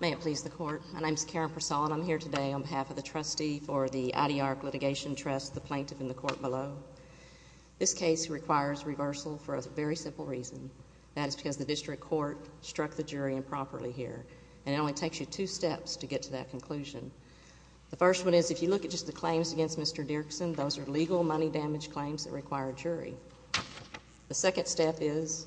May it please the court, my name is Karen Persaud and I'm here today on behalf of the trustee for the Adyar Litigation Trust, the plaintiff in the court below. This case requires reversal for a very simple reason. That is because the district court struck the jury improperly here and it only takes you two steps to get to that conclusion. The first one is if you look at just the claims against Mr. Dirksen, those are legal money damage claims that require a jury. The second step is,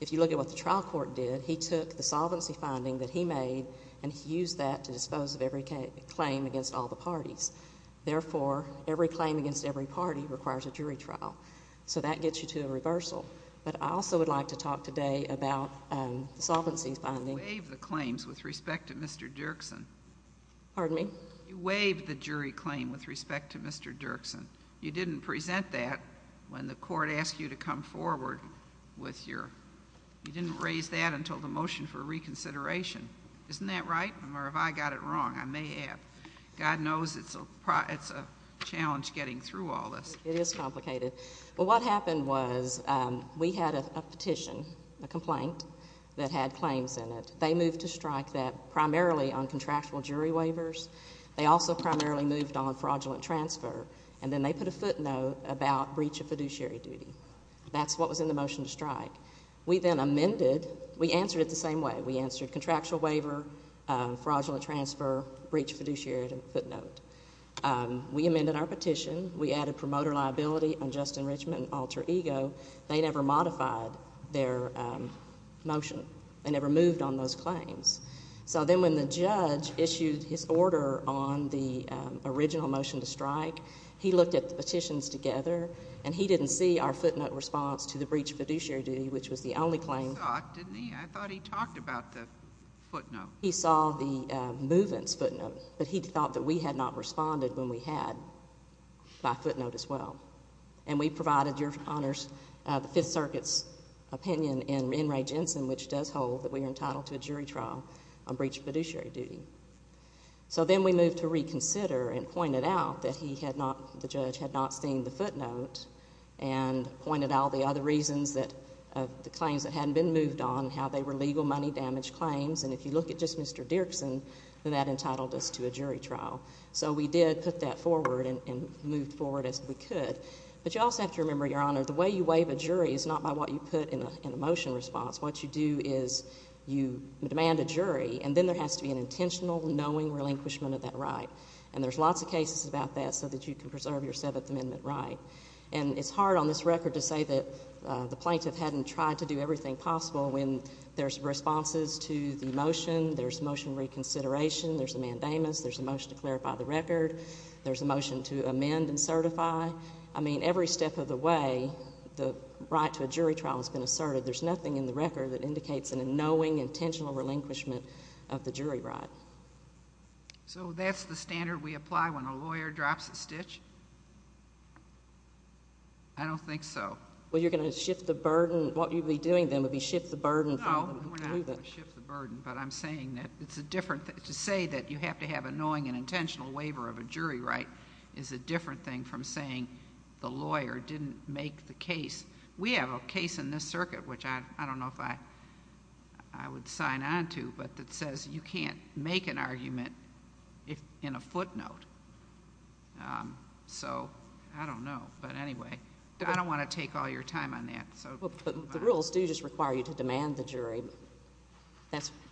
if you look at what the trial court did, he took the solvency finding that he made and he used that to dispose of every claim against all the parties. Therefore, every claim against every party requires a jury trial. So that gets you to a reversal. But I also would like to talk today about the solvency finding. You waived the claims with respect to Mr. Dirksen. Pardon me? You waived the jury claim with respect to Mr. Dirksen. You didn't present that when the court asked you to come forward with your, you didn't raise that until the motion for reconsideration. Isn't that right? Or have I got it wrong? I may have. God knows it's a challenge getting through all this. It is complicated. But what happened was we had a petition, a complaint that had claims in it. They moved to strike that primarily on contractual jury waivers. They also primarily moved on fraudulent transfer. And then they put a footnote about breach of fiduciary duty. That's what was in the motion to strike. We then amended, we answered it the same way. We answered contractual waiver, fraudulent transfer, breach of fiduciary footnote. We amended our petition. We added promoter liability on just enrichment and alter ego. They never modified their motion. They never moved on those claims. So then when the judge issued his order on the original motion to strike, he looked at the petitions together and he didn't see our footnote response to the breach of fiduciary duty, which was the only claim. He saw it, didn't he? I thought he talked about the footnote. He saw the movement's footnote, but he thought that we had not responded when we had by footnote as well. And we provided your honors, the Fifth Circuit's opinion in Ray Jensen, which does hold that we are entitled to a jury trial on breach of fiduciary duty. So then we moved to reconsider and pointed out that he had not, the judge had not seen the footnote and pointed out the other reasons that the claims that hadn't been moved on, how they were legal money damage claims. And if you look at just Mr. Dirksen, that entitled us to a jury trial. So we did put that forward and moved forward as we could. But you also have to remember, your honor, the way you put in a motion response, what you do is you demand a jury and then there has to be an intentional, knowing relinquishment of that right. And there's lots of cases about that so that you can preserve your Seventh Amendment right. And it's hard on this record to say that the plaintiff hadn't tried to do everything possible when there's responses to the motion, there's motion reconsideration, there's a mandamus, there's a motion to clarify the record, there's a motion to amend and certify. I mean, every step of the way, the right to a jury trial has been asserted. There's nothing in the record that indicates an annoying, intentional relinquishment of the jury right. So that's the standard we apply when a lawyer drops a stitch? I don't think so. Well, you're going to shift the burden, what you'd be doing then would be shift the burden from the... No, we're not going to shift the burden. But I'm saying that it's a different, to say that you have to have annoying and intentional waiver of a jury right is a different thing from saying the lawyer didn't make the case. We have a case in this circuit, which I don't know if I would sign on to, but it says you can't make an argument in a footnote. So I don't know. But anyway, I don't want to take all your time on that. But the rules do just require you to demand the jury.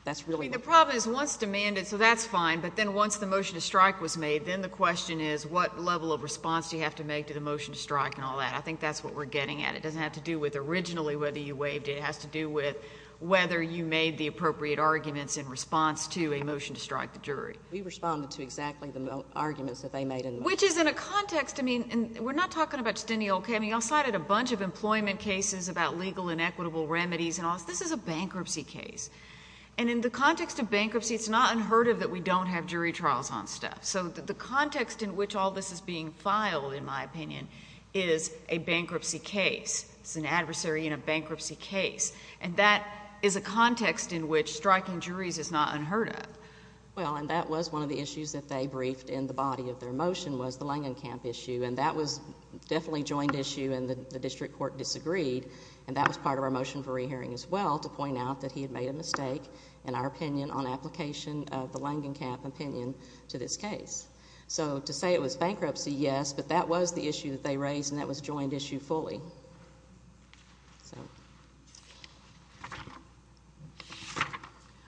That's really... The problem is once demanded, so that's fine. But then once the motion to strike was made, then the question is what level of response do you have to make to the motion to strike and all that? I think that's what we're getting at. It doesn't have to do with originally whether you waived it. It has to do with whether you made the appropriate arguments in response to a motion to strike the jury. We responded to exactly the arguments that they made in the motion. Which is in a context, I mean, we're not talking about just any old case. I mean, you all cited a bunch of employment cases about legal and equitable remedies and all this. This is a bankruptcy case. And in the context of bankruptcy, it's not unheard of that we don't have jury trials on stuff. So the context in which all this is being filed, in my opinion, is a bankruptcy case. It's an adversary in a bankruptcy case. And that is a context in which striking juries is not unheard of. Well, and that was one of the issues that they briefed in the body of their motion was the Langenkamp issue. And that was definitely a joined issue and the district court disagreed. And that was part of our motion for re-hearing as well, to point out that he had made a mistake in our opinion on application of the Langenkamp opinion to this case. So to say it was bankruptcy, yes, but that was the issue that they raised and that was joined issue fully.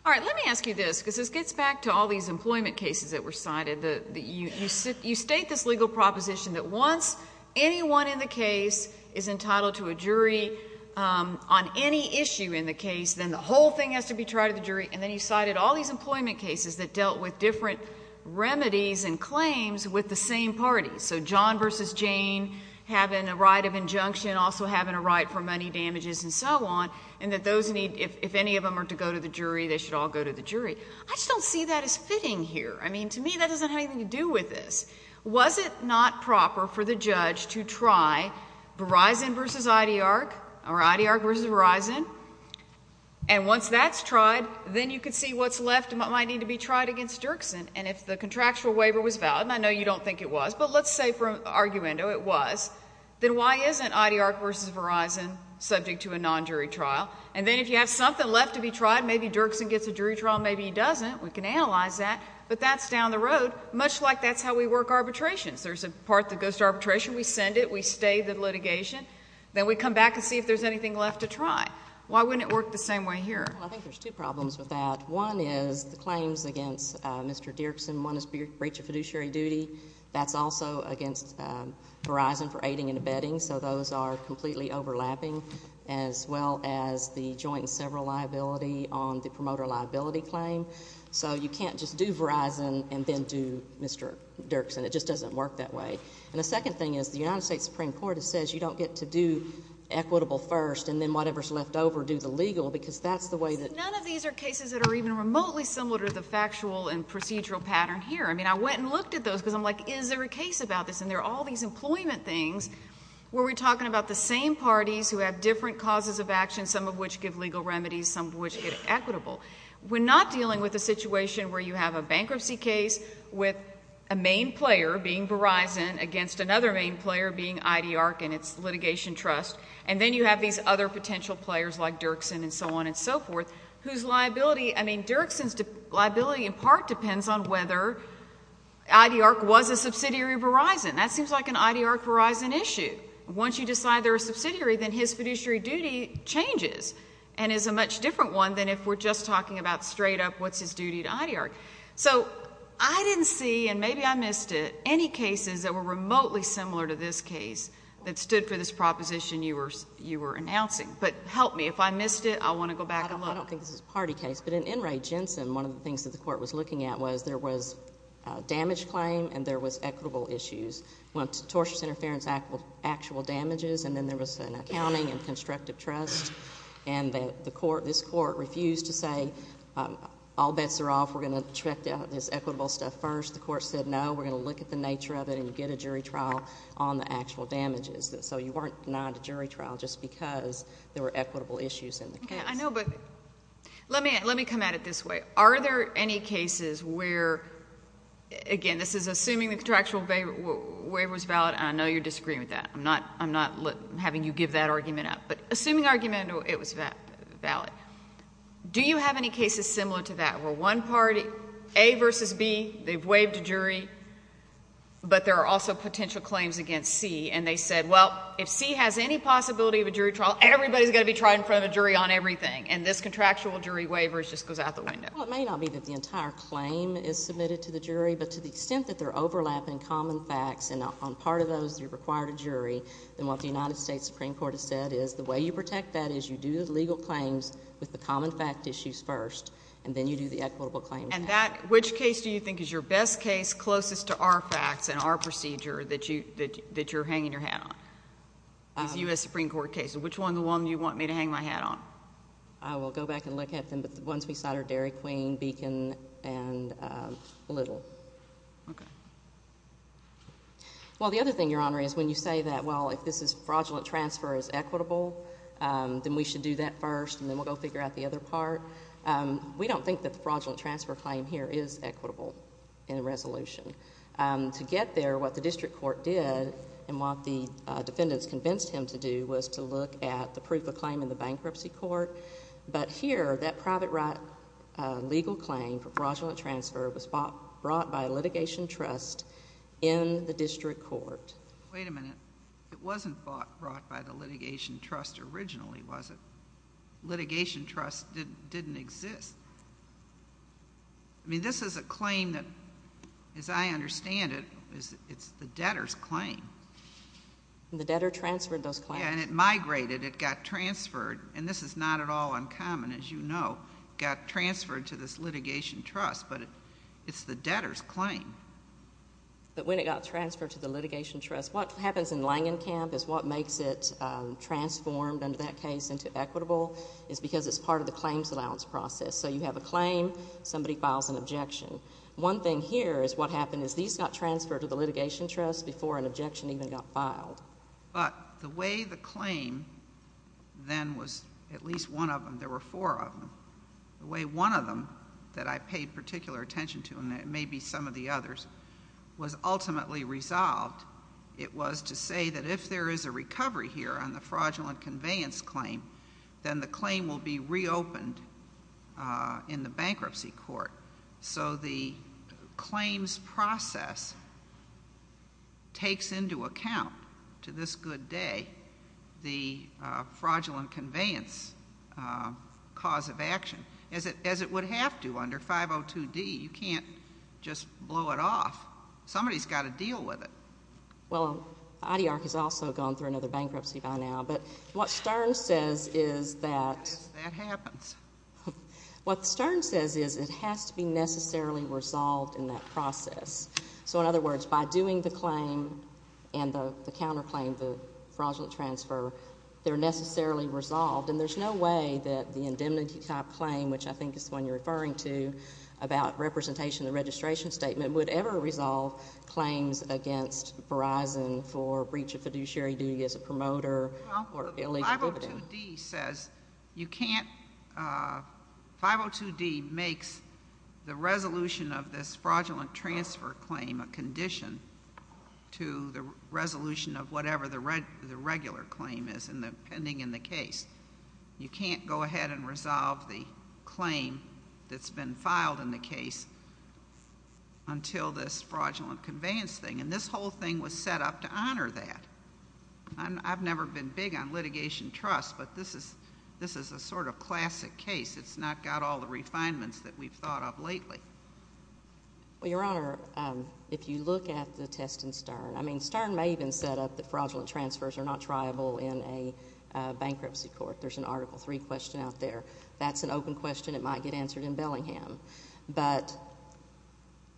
All right, let me ask you this, because this gets back to all these employment cases that were cited. You state this legal proposition that once anyone in the case is entitled to a jury on any issue in the case, then the whole thing has to be tried to the jury. And then you cited all these employment cases that dealt with different remedies and claims with the same parties. So John versus Jane having a right of injunction, also having a right for money damages and so on, and that those need, if any of them are to go to the jury, they should all go to the jury. I just don't see that as fitting here. I mean, to me, that doesn't have anything to do with this. Was it not proper for the judge to try Verizon versus IDARC or IDARC versus Verizon? And once that's tried, then you can see what's left and what might need to be tried against Dirksen. And if the contractual waiver was valid, and I know you don't think it was, but let's say for argument, it was, then why isn't IDARC versus Verizon subject to a non-jury trial? And then if you have something left to be tried, maybe Dirksen gets a jury trial and maybe he doesn't. We can analyze that. But that's down the road, much like that's how we work arbitrations. There's a part that goes to arbitration. We send it. We stay the litigation. Then we come back and see if there's anything left to try. Why wouldn't it work the same way here? Well, I think there's two problems with that. One is the claims against Mr. Dirksen. One is breach of fiduciary duty. That's also against Verizon for aiding and abetting. So those are completely overlapping, as well as the joint and several liability on the promoter liability claim. So you can't just do Verizon and then do Mr. Dirksen. It just doesn't work that way. And the second thing is the United States Supreme Court says you don't get to do equitable first and then whatever's left over, do the legal because that's the way that- None of these are cases that are even remotely similar to the factual and procedural pattern here. I mean, I went and looked at those because I'm like, is there a case about this? And there are all these employment things where we're talking about the same parties who have different causes of action, some of which give legal remedies, some of which get equitable. We're not dealing with a situation where you have a bankruptcy case with a main player being Verizon against another main player being IDARC and its litigation trust, and then you have these other potential players like Dirksen and so on and so forth whose liability- I mean, Dirksen's liability in part depends on whether IDARC was a subsidiary of Verizon. That seems like an IDARC Verizon issue. Once you decide they're a subsidiary, then his fiduciary duty changes and is a much different one than if we're just talking about many cases that were remotely similar to this case that stood for this proposition you were announcing. But help me, if I missed it, I want to go back and look. I don't think this is a party case, but in Enright Jensen, one of the things that the Court was looking at was there was a damage claim and there was equitable issues. Torture interference, actual damages, and then there was an accounting and constructive trust, and this Court refused to say all bets are off, we're going to check this equitable stuff first. The Court said, no, we're going to look at the nature of it and get a jury trial on the actual damages. So you weren't denied a jury trial just because there were equitable issues in the case. I know, but let me come at it this way. Are there any cases where, again, this is assuming the contractual waiver was valid, and I know you're disagreeing with that. I'm not having you give that argument up. But assuming argument it was valid, do you have any cases similar to that, where one party, A versus B, they've waived a jury, but there are also potential claims against C, and they said, well, if C has any possibility of a jury trial, everybody's going to be tried in front of a jury on everything, and this contractual jury waiver just goes out the window? Well, it may not be that the entire claim is submitted to the jury, but to the extent that they're overlapping common facts and on part of those, you require a jury, then what the United States Supreme Court has said is the way you protect that is you do the And that, which case do you think is your best case, closest to our facts and our procedure that you're hanging your hat on, this U.S. Supreme Court case? Which one do you want me to hang my hat on? I will go back and look at them, but the ones we cited are Dairy Queen, Beacon, and Little. Okay. Well, the other thing, Your Honor, is when you say that, well, if this is fraudulent transfer is equitable, then we should do that first, and then we'll go figure out the other part. We don't think that the fraudulent transfer claim here is equitable in a resolution. To get there, what the district court did and what the defendants convinced him to do was to look at the proof of claim in the bankruptcy court, but here, that private right legal claim for fraudulent transfer was brought by litigation trust in the district court. Wait a minute. It wasn't brought by the litigation trust originally, was it? The litigation trust didn't exist. I mean, this is a claim that, as I understand it, it's the debtor's claim. The debtor transferred those claims. Yeah, and it migrated. It got transferred, and this is not at all uncommon, as you know, it got transferred to this litigation trust, but it's the debtor's claim. But when it got transferred to the litigation trust, what happens in Langenkamp is what is equitable is because it's part of the claims allowance process. So you have a claim, somebody files an objection. One thing here is what happened is these got transferred to the litigation trust before an objection even got filed. But the way the claim then was, at least one of them, there were four of them, the way one of them that I paid particular attention to, and it may be some of the others, was ultimately resolved, it was to say that if there is a recovery here on the fraudulent conveyance claim, then the claim will be reopened in the bankruptcy court. So the claims process takes into account, to this good day, the fraudulent conveyance cause of action, as it would have to under 502 D. You can't just blow it off. Somebody's got to deal with it. Well, IDARC has also gone through another bankruptcy by now, but what Stern says is that— Yes, that happens. What Stern says is it has to be necessarily resolved in that process. So in other words, by doing the claim and the counterclaim, the fraudulent transfer, they're necessarily resolved, and there's no way that the indemnity type claim, which I think is the one you're referring to, about representation and registration statement would ever resolve claims against Verizon for breach of fiduciary duty as a promoter or illegal dividend. Well, 502 D says you can't—502 D makes the resolution of this fraudulent transfer claim a condition to the resolution of whatever the regular claim is pending in the case. You can't go ahead and resolve the claim that's been filed in the case until this fraudulent conveyance thing. And this whole thing was set up to honor that. I've never been big on litigation trust, but this is a sort of classic case. It's not got all the refinements that we've thought of lately. Well, Your Honor, if you look at the test in Stern—I mean, Stern may have been set up that fraudulent transfers are not triable in a bankruptcy court. There's an Article III question out there. That's an open question. It might get answered in Bellingham. But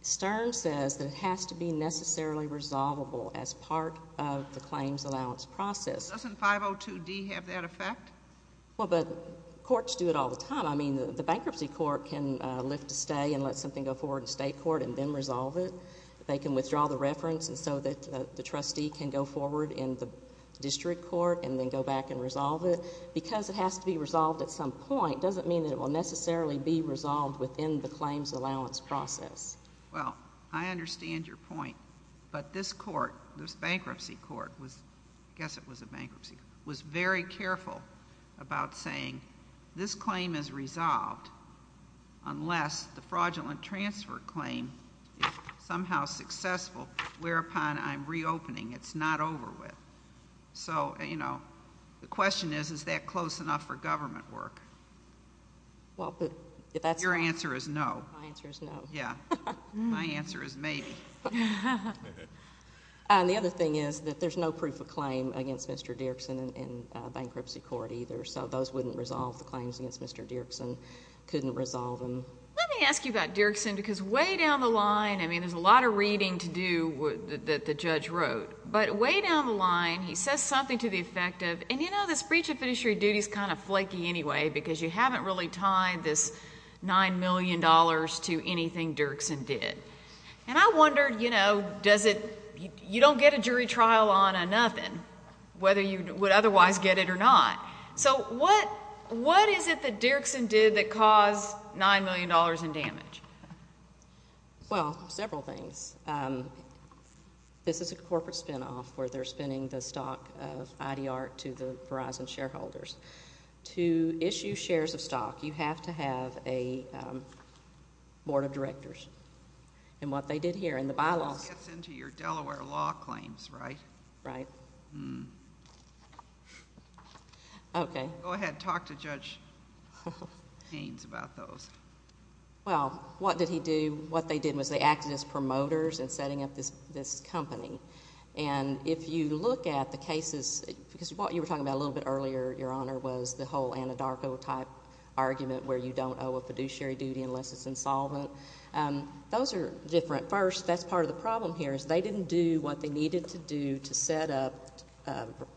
Stern says that it has to be necessarily resolvable as part of the claims allowance process. Doesn't 502 D have that effect? Well, but courts do it all the time. I mean, the bankruptcy court can lift a stay and let something go forward in state court and then resolve it. They can withdraw the reference so that the trustee can go forward in the district court and then go back and resolve it. Because it has to be resolved at some point doesn't mean that it will necessarily be resolved within the claims allowance process. Well, I understand your point. But this court, this bankruptcy court—I guess it was a bankruptcy—was very careful about saying, this claim is resolved unless the fraudulent transfer claim is somehow successful, whereupon I'm reopening. It's not over with. So you know, the question is, is that close enough for government work? Well, but if that's— Your answer is no. My answer is no. Yeah. My answer is maybe. And the other thing is that there's no proof of claim against Mr. Dirksen in bankruptcy court either. So those wouldn't resolve the claims against Mr. Dirksen, couldn't resolve them. Let me ask you about Dirksen because way down the line—I mean, there's a lot of reading to do that the judge wrote. But way down the line, he says something to the effect of, and you know, this breach of fiduciary duty is kind of flaky anyway because you haven't really tied this $9 million to anything Dirksen did. And I wondered, you know, does it—you don't get a jury trial on nothing, whether you would otherwise get it or not. So what is it that Dirksen did that caused $9 million in damage? Well, several things. This is a corporate spinoff where they're spending the stock of IDR to the Verizon shareholders. To issue shares of stock, you have to have a board of directors. And what they did here in the bylaws— This gets into your Delaware law claims, right? Right. Okay. Go ahead. Talk to Judge Haynes about those. Well, what did he do? What they did was they acted as promoters in setting up this company. And if you look at the cases—because what you were talking about a little bit earlier, Your Honor, was the whole Anadarko-type argument where you don't owe a fiduciary duty unless it's insolvent. Those are different. First, that's part of the problem here is they didn't do what they needed to do to set up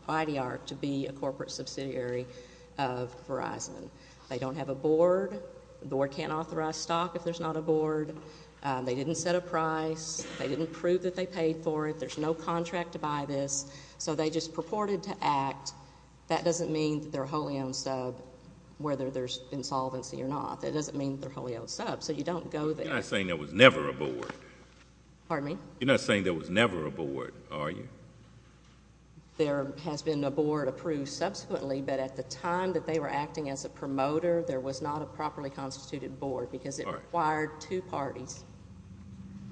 IDR to be a corporate subsidiary of Verizon. They don't have a board. The board can't authorize stock if there's not a board. They didn't set a price. They didn't prove that they paid for it. There's no contract to buy this. So they just purported to act. That doesn't mean that they're a wholly owned sub whether there's insolvency or not. That doesn't mean they're a wholly owned sub. So you don't go there— You're not saying there was never a board. Pardon me? You're not saying there was never a board, are you? There has been a board approved subsequently, but at the time that they were acting as a promoter, there was not a properly constituted board because it required two parties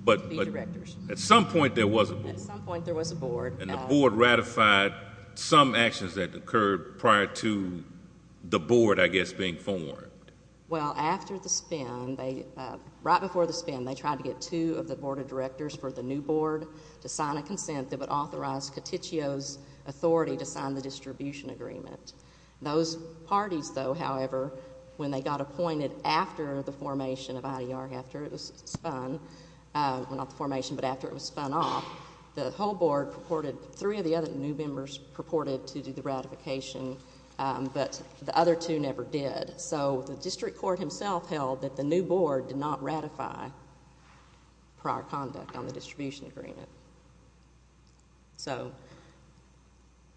to be directors. At some point, there was a board. At some point, there was a board. And the board ratified some actions that occurred prior to the board, I guess, being formed. Well, after the spin, right before the spin, they tried to get two of the board of directors for the new board to sign a consent that would authorize Coticchio's authority to sign the distribution agreement. Those parties, though, however, when they got appointed after the formation of IDR, or after it was spun—well, not the formation, but after it was spun off, the whole board purported—three of the other new members purported to do the ratification, but the other two never did. So the district court himself held that the new board did not ratify prior conduct on the distribution agreement. So—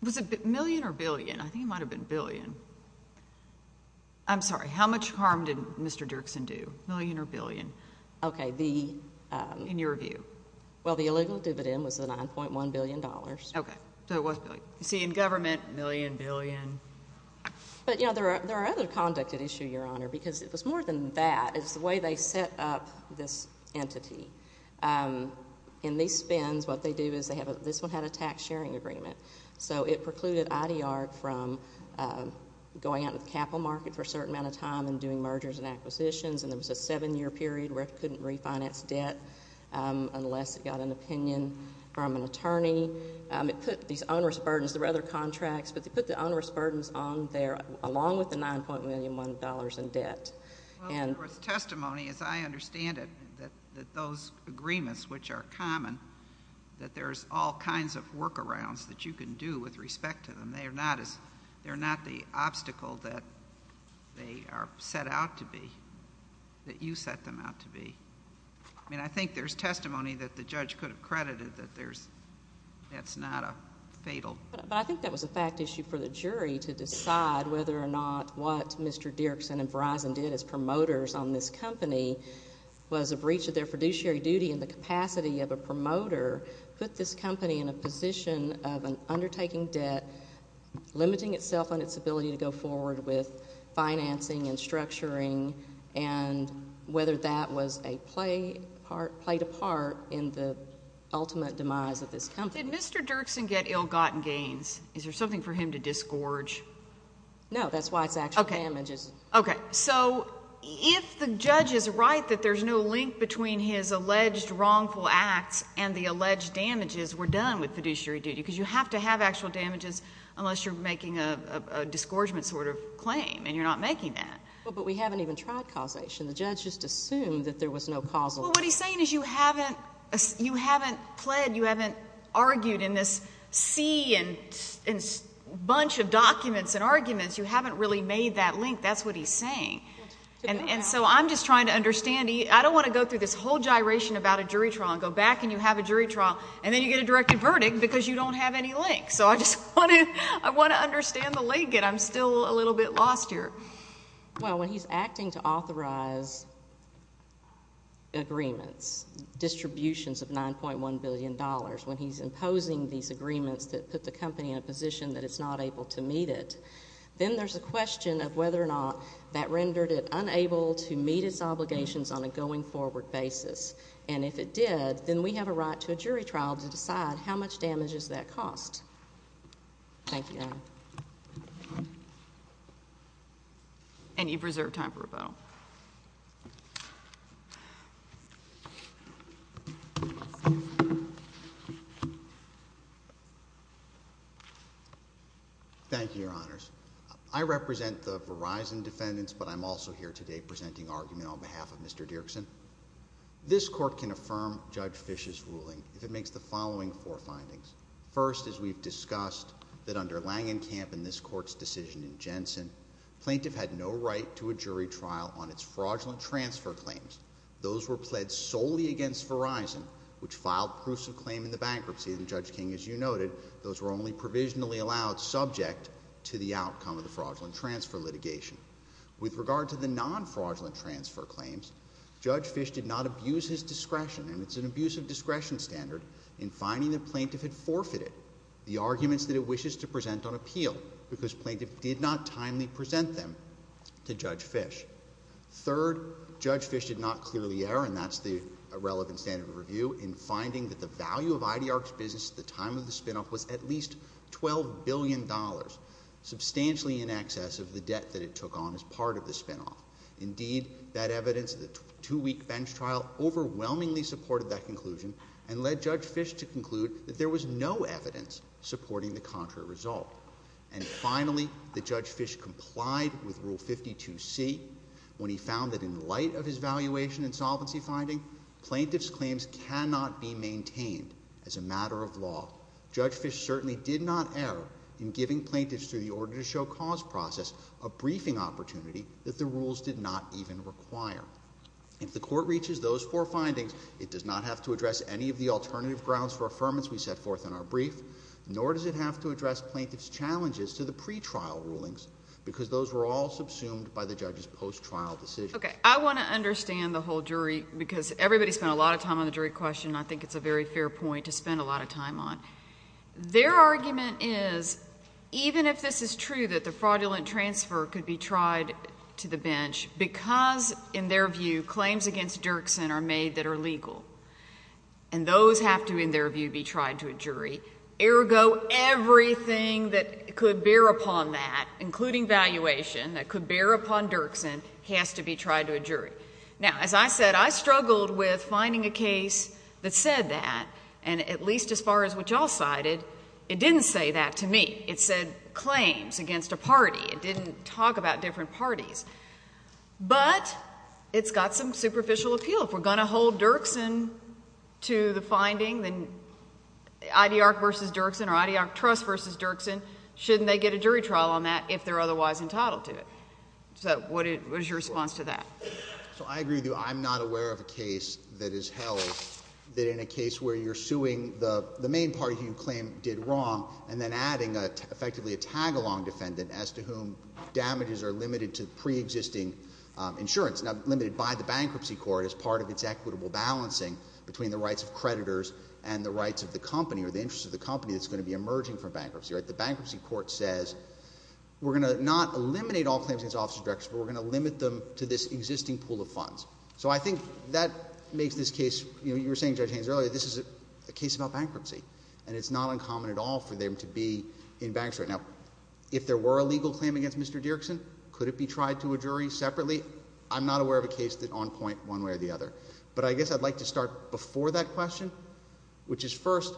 Was it million or billion? I think it might have been billion. I'm sorry. How much harm did Mr. Dirksen do? Million or billion? Okay, the— In your view? Well, the illegal dividend was the $9.1 billion. Okay. So it was billion. You see, in government, million, billion. But, you know, there are other conduct at issue, Your Honor, because it was more than that. It's the way they set up this entity. In these spins, what they do is they have—this one had a tax-sharing agreement. So it precluded IDR from going out into the capital market for a certain amount of time and doing mergers and acquisitions. And there was a seven-year period where it couldn't refinance debt unless it got an opinion from an attorney. It put these onerous burdens—there were other contracts, but they put the onerous burdens on there, along with the $9.1 billion in debt. Well, there was testimony, as I understand it, that those agreements, which are common, that there's all kinds of workarounds that you can do with respect to them. And they are not the obstacle that they are set out to be, that you set them out to be. I mean, I think there's testimony that the judge could have credited that there's—that's not a fatal— But I think that was a fact issue for the jury to decide whether or not what Mr. Dirksen and Verizon did as promoters on this company was a breach of their fiduciary duty in the limiting itself on its ability to go forward with financing and structuring and whether that was a play part—played a part in the ultimate demise of this company. Did Mr. Dirksen get ill-gotten gains? Is there something for him to disgorge? No, that's why it's actual damages. Okay. So, if the judge is right that there's no link between his alleged wrongful acts and the alleged damages were done with fiduciary duty, because you have to have actual damages unless you're making a disgorgement sort of claim, and you're not making that. But we haven't even tried causation. The judge just assumed that there was no causal— Well, what he's saying is you haven't—you haven't pled, you haven't argued in this sea and bunch of documents and arguments. You haven't really made that link. That's what he's saying. And so, I'm just trying to understand—I don't want to go through this whole gyration about a jury trial and go back and you have a jury trial, and then you get a directed verdict because you don't have any link. So, I just want to—I want to understand the link, and I'm still a little bit lost here. Well, when he's acting to authorize agreements, distributions of $9.1 billion, when he's imposing these agreements that put the company in a position that it's not able to meet it, then there's a question of whether or not that rendered it unable to meet its obligations on a going-forward basis. And if it did, then we have a right to a jury trial to decide how much damage does that cost. Thank you, Your Honor. And you preserve time for rebuttal. Thank you, Your Honors. I represent the Verizon defendants, but I'm also here today presenting argument on behalf of Mr. Dirksen. This Court can affirm Judge Fisch's ruling if it makes the following four findings. First, as we've discussed, that under Langenkamp and this Court's decision in Jensen, plaintiff had no right to a jury trial on its fraudulent transfer claims. Those were pled solely against Verizon, which filed proofs of claim in the bankruptcy, and Judge King, as you noted, those were only provisionally allowed subject to the outcome of the fraudulent transfer litigation. With regard to the non-fraudulent transfer claims, Judge Fisch did not abuse his discretion, and it's an abuse of discretion standard, in finding that plaintiff had forfeited the arguments that it wishes to present on appeal, because plaintiff did not timely present them to Judge Fisch. Third, Judge Fisch did not clear the error, and that's the relevant standard of review, in finding that the value of IDR's business at the time of the spinoff was at least $12 billion, substantially in excess of the debt that it took on as part of the spinoff. Indeed, that evidence, the two-week bench trial, overwhelmingly supported that conclusion, and led Judge Fisch to conclude that there was no evidence supporting the contrary result. And finally, that Judge Fisch complied with Rule 52C, when he found that in light of his valuation and solvency finding, plaintiff's claims cannot be maintained as a matter of law. Judge Fisch certainly did not err in giving plaintiffs, through the order-to-show-cause process, a briefing opportunity that the rules did not even require. If the Court reaches those four findings, it does not have to address any of the alternative grounds for affirmance we set forth in our brief, nor does it have to address plaintiff's challenges to the pretrial rulings, because those were all subsumed by the judge's post-trial decision. Okay. I want to understand the whole jury, because everybody spent a lot of time on the jury question, and I think it's a very fair point to spend a lot of time on. Their argument is, even if this is true, that the fraudulent transfer could be tried to the bench, because in their view, claims against Dirksen are made that are legal, and those have to, in their view, be tried to a jury, ergo everything that could bear upon that, including valuation, that could bear upon Dirksen, has to be tried to a jury. Now, as I said, I struggled with finding a case that said that, and at least as far as what y'all cited, it didn't say that to me. It said claims against a party. It didn't talk about different parties. But it's got some superficial appeal. If we're going to hold Dirksen to the finding, then IDARC v. Dirksen or IDARC Trust v. Dirksen, shouldn't they get a jury trial on that if they're otherwise entitled to it? So what is your response to that? So I agree with you. I'm not aware of a case that is held that in a case where you're suing the main party who you claim did wrong, and then adding effectively a tag-along defendant as to whom damages are limited to pre-existing insurance, now, limited by the bankruptcy court as part of its equitable balancing between the rights of creditors and the rights of the company or the interests of the company that's going to be emerging from bankruptcy. The bankruptcy court says, we're going to not eliminate all claims against the office of directors, but we're going to limit them to this existing pool of funds. So I think that makes this case, you were saying, Judge Haynes, earlier, this is a case about bankruptcy. And it's not uncommon at all for them to be in bankruptcy. Now, if there were a legal claim against Mr. Dirksen, could it be tried to a jury separately? I'm not aware of a case that's on point one way or the other. But I guess I'd like to start before that question, which is first,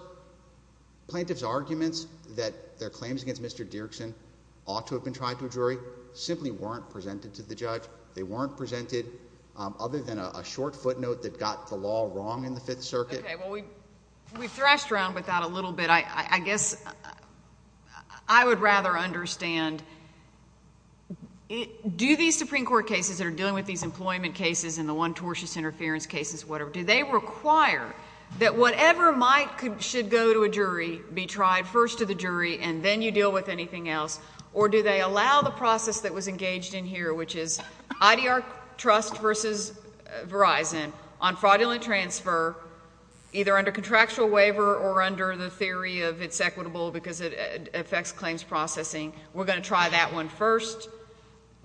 plaintiff's arguments that their claims against Mr. Dirksen ought to have been tried to a jury simply weren't presented to the judge. They weren't presented other than a short footnote that got the law wrong in the Fifth Circuit. Okay. Well, we've thrashed around with that a little bit. I guess I would rather understand, do these Supreme Court cases that are dealing with these employment cases and the one tortious interference cases, whatever, do they require that whatever might should go to a jury be tried first to the jury, and then you deal with anything else? Or do they allow the process that was engaged in here, which is IDR Trust versus Verizon, on fraudulent transfer, either under contractual waiver or under the theory of it's equitable because it affects claims processing, we're going to try that one first,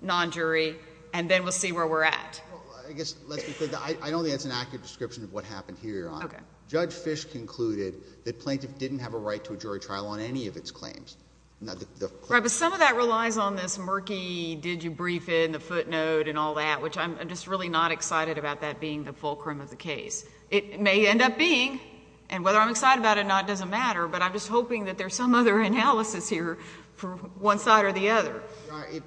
non-jury, and then we'll see where we're at? Well, I guess, let's be clear, I don't think that's an accurate description of what happened here, Your Honor. Okay. Judge Fish concluded that plaintiff didn't have a right to a jury trial on any of its claims. Right, but some of that relies on this murky, did you brief in, the footnote and all that, which I'm just really not excited about that being the fulcrum of the case. It may end up being, and whether I'm excited about it or not doesn't matter, but I'm just hoping that there's some other analysis here from one side or the other.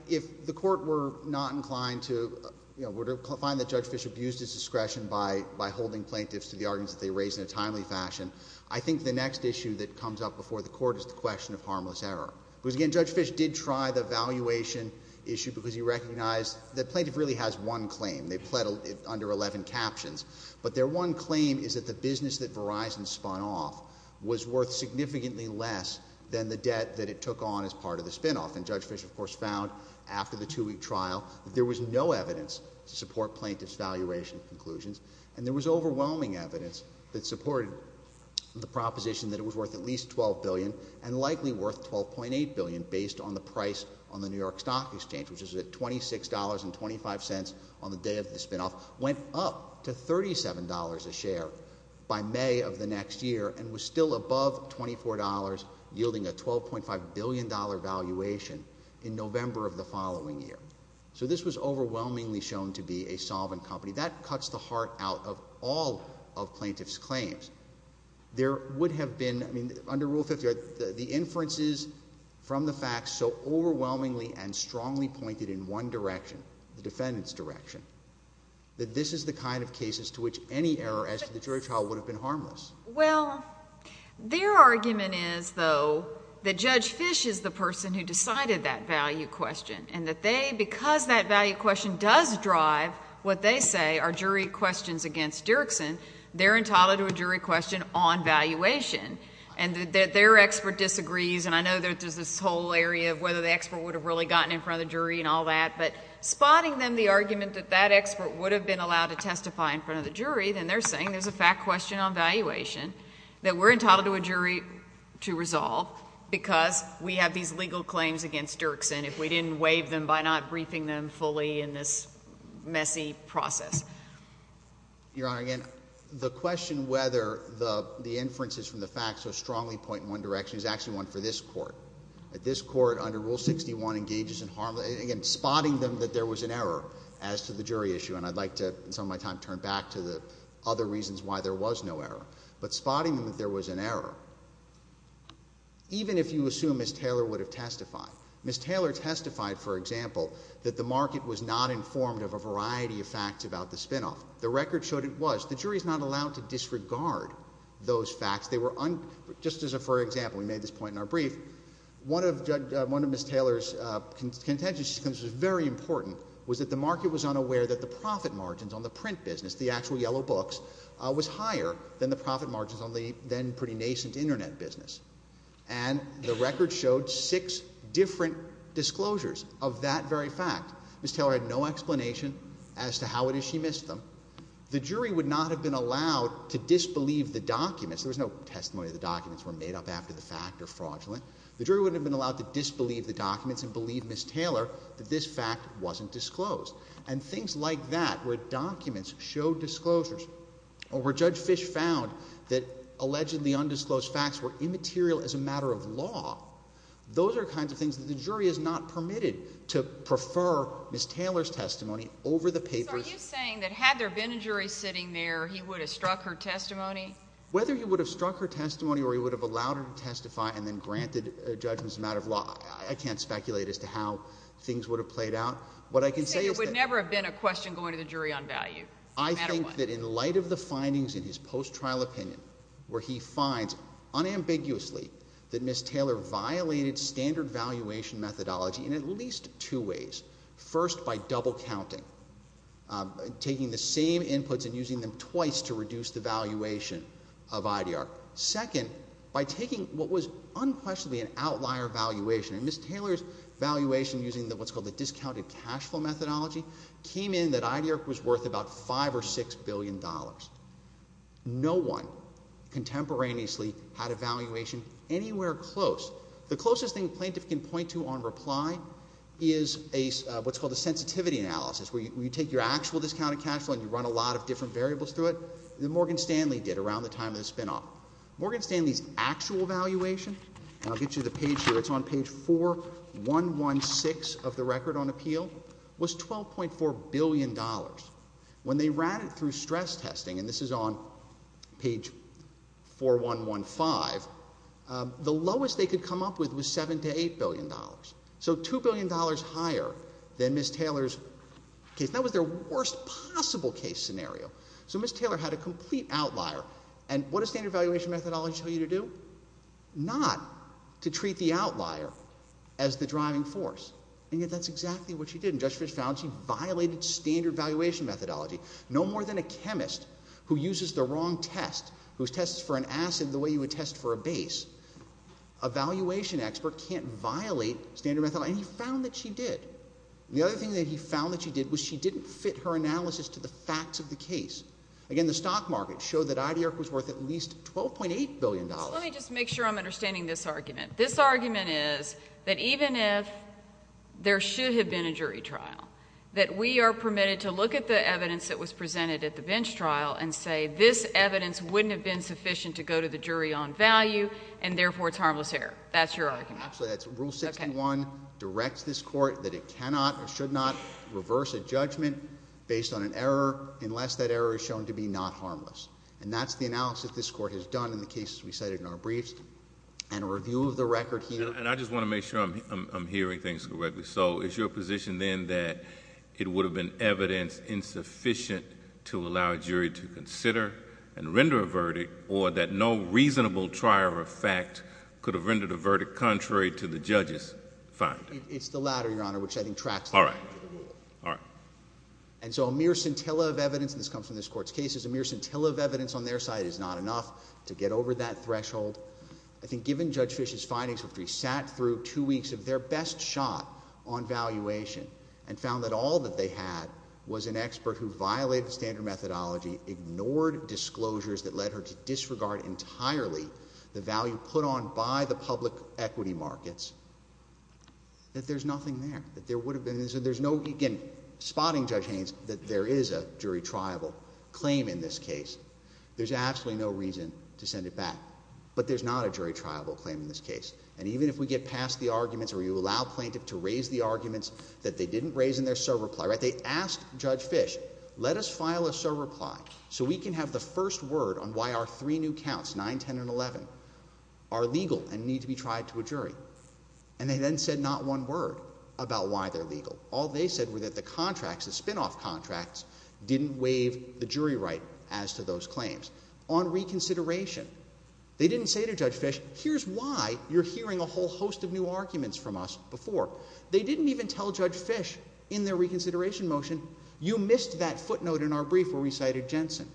If the court were not inclined to, you know, were to find that Judge Fish abused his discretion by holding plaintiffs to the arguments that they raised in a timely fashion, I think the next issue that comes up before the court is the question of harmless error. Because again, Judge Fish did try the valuation issue because he recognized that plaintiff really has one claim, they pled under 11 captions, but their one claim is that the business that Verizon spun off was worth significantly less than the debt that it took on as part of the trial. It was found after the two-week trial that there was no evidence to support plaintiff's valuation conclusions, and there was overwhelming evidence that supported the proposition that it was worth at least $12 billion and likely worth $12.8 billion based on the price on the New York Stock Exchange, which is at $26.25 on the day of the spin-off, went up to $37 a share by May of the next year and was still above $24, yielding a $12.5 billion valuation in November of the following year. So this was overwhelmingly shown to be a solvent company. That cuts the heart out of all of plaintiff's claims. There would have been, I mean, under Rule 50, the inferences from the facts so overwhelmingly and strongly pointed in one direction, the defendant's direction, that this is the kind of cases to which any error as to the jury trial would have been harmless. Well, their argument is, though, that Judge Fish is the person who decided that value question and that they, because that value question does drive what they say are jury questions against Dirksen, they're entitled to a jury question on valuation. And that their expert disagrees, and I know there's this whole area of whether the expert would have really gotten in front of the jury and all that, but spotting them the argument that that expert would have been allowed to testify in front of the jury, then they're saying there's a fact question on valuation that we're entitled to a jury to resolve because we have these legal claims against Dirksen if we didn't waive them by not briefing them fully in this messy process. Your Honor, again, the question whether the inferences from the facts so strongly point in one direction is actually one for this Court. This Court, under Rule 61, engages in harmless, again, spotting them that there was an error as to the jury issue, and I'd like to, in some of my time, turn back to the other reasons why there was no error. But spotting them that there was an error, even if you assume Ms. Taylor would have testified, Ms. Taylor testified, for example, that the market was not informed of a variety of facts about the spinoff. The record showed it was. The jury is not allowed to disregard those facts. They were, just as a, for example, we made this point in our brief, one of Ms. Taylor's contentions, which was very important, was that the market was unaware that the profit margins on the print business, the actual yellow books, was higher than the profit margins on the then pretty nascent Internet business. And the record showed six different disclosures of that very fact. Ms. Taylor had no explanation as to how it is she missed them. The jury would not have been allowed to disbelieve the documents. There was no testimony that the documents were made up after the fact or fraudulent. The jury would have been allowed to disbelieve the documents and believe Ms. Taylor that this fact wasn't disclosed. And things like that, where documents show disclosures, or where Judge Fisch found that allegedly undisclosed facts were immaterial as a matter of law, those are kinds of things that the jury is not permitted to prefer Ms. Taylor's testimony over the papers. So are you saying that had there been a jury sitting there, he would have struck her testimony? Whether he would have struck her testimony or he would have allowed her to testify and then granted a judgment as a matter of law, I can't speculate as to how things would have played out. What I can say is that- You say there would never have been a question going to the jury on value, no matter what. I think that in light of the findings in his post-trial opinion, where he finds unambiguously that Ms. Taylor violated standard valuation methodology in at least two ways. First by double counting, taking the same inputs and using them twice to reduce the valuation of IDR. Second, by taking what was unquestionably an outlier valuation, and Ms. Taylor's valuation using what's called the discounted cash flow methodology, came in that IDR was worth about $5 or $6 billion. No one contemporaneously had a valuation anywhere close. The closest thing a plaintiff can point to on reply is what's called a sensitivity analysis, where you take your actual discounted cash flow and you run a lot of different variables through it that Morgan Stanley did around the time of the spinoff. Morgan Stanley's actual valuation, and I'll get you the page here, it's on page 4116 of the record on appeal, was $12.4 billion. When they ran it through stress testing, and this is on page 4115, the lowest they could come up with was $7 to $8 billion. So $2 billion higher than Ms. Taylor's case. That was their worst possible case scenario. So Ms. Taylor had a complete outlier. And what does standard valuation methodology tell you to do? Not to treat the outlier as the driving force. And yet that's exactly what she did. And Judge Fisch found she violated standard valuation methodology. No more than a chemist who uses the wrong test, who tests for an acid the way you would test for a base, a valuation expert can't violate standard methodology. And he found that she did. The other thing that he found that she did was she didn't fit her analysis to the facts of the case. Again, the stock market showed that IDIRC was worth at least $12.8 billion. Let me just make sure I'm understanding this argument. This argument is that even if there should have been a jury trial, that we are permitted to look at the evidence that was presented at the bench trial and say this evidence wouldn't have been sufficient to go to the jury on value, and therefore it's harmless error. That's your argument. Actually, that's rule 61, directs this court that it cannot or should not reverse a judgment based on an error unless that error is shown to be not harmless. And that's the analysis this court has done in the cases we cited in our briefs. And a review of the record here. And I just want to make sure I'm hearing things correctly. So is your position then that it would have been evidence insufficient to allow a jury to consider and render a verdict, or that no reasonable trial or fact could have rendered a verdict contrary to the judge's finding? It's the latter, Your Honor, which I think tracks the argument. All right. All right. And so a mere scintilla of evidence, and this comes from this court's cases, a mere scintilla of evidence on their side is not enough to get over that threshold. I think given Judge Fish's findings, which we sat through two weeks of their best shot on valuation and found that all that they had was an expert who violated standard methodology, ignored disclosures that led her to disregard entirely the value put on by the public equity markets, that there's nothing there. That there would have been. So there's no, again, spotting Judge Haynes that there is a jury triable claim in this case. There's absolutely no reason to send it back. But there's not a jury triable claim in this case. And even if we get past the arguments where you allow plaintiff to raise the arguments that they didn't raise in their sole reply, right, they asked Judge Fish, let us file a sole reply so we can have the first word on why our three new counts, 9, 10, and 11, are legal and need to be tried to a jury. And they then said not one word about why they're legal. All they said were that the contracts, the spinoff contracts, didn't waive the jury right as to those claims. On reconsideration, they didn't say to Judge Fish, here's why you're hearing a whole host of new arguments from us before. They didn't even tell Judge Fish in their reconsideration motion, you missed that footnote in our brief where we cited Jensen.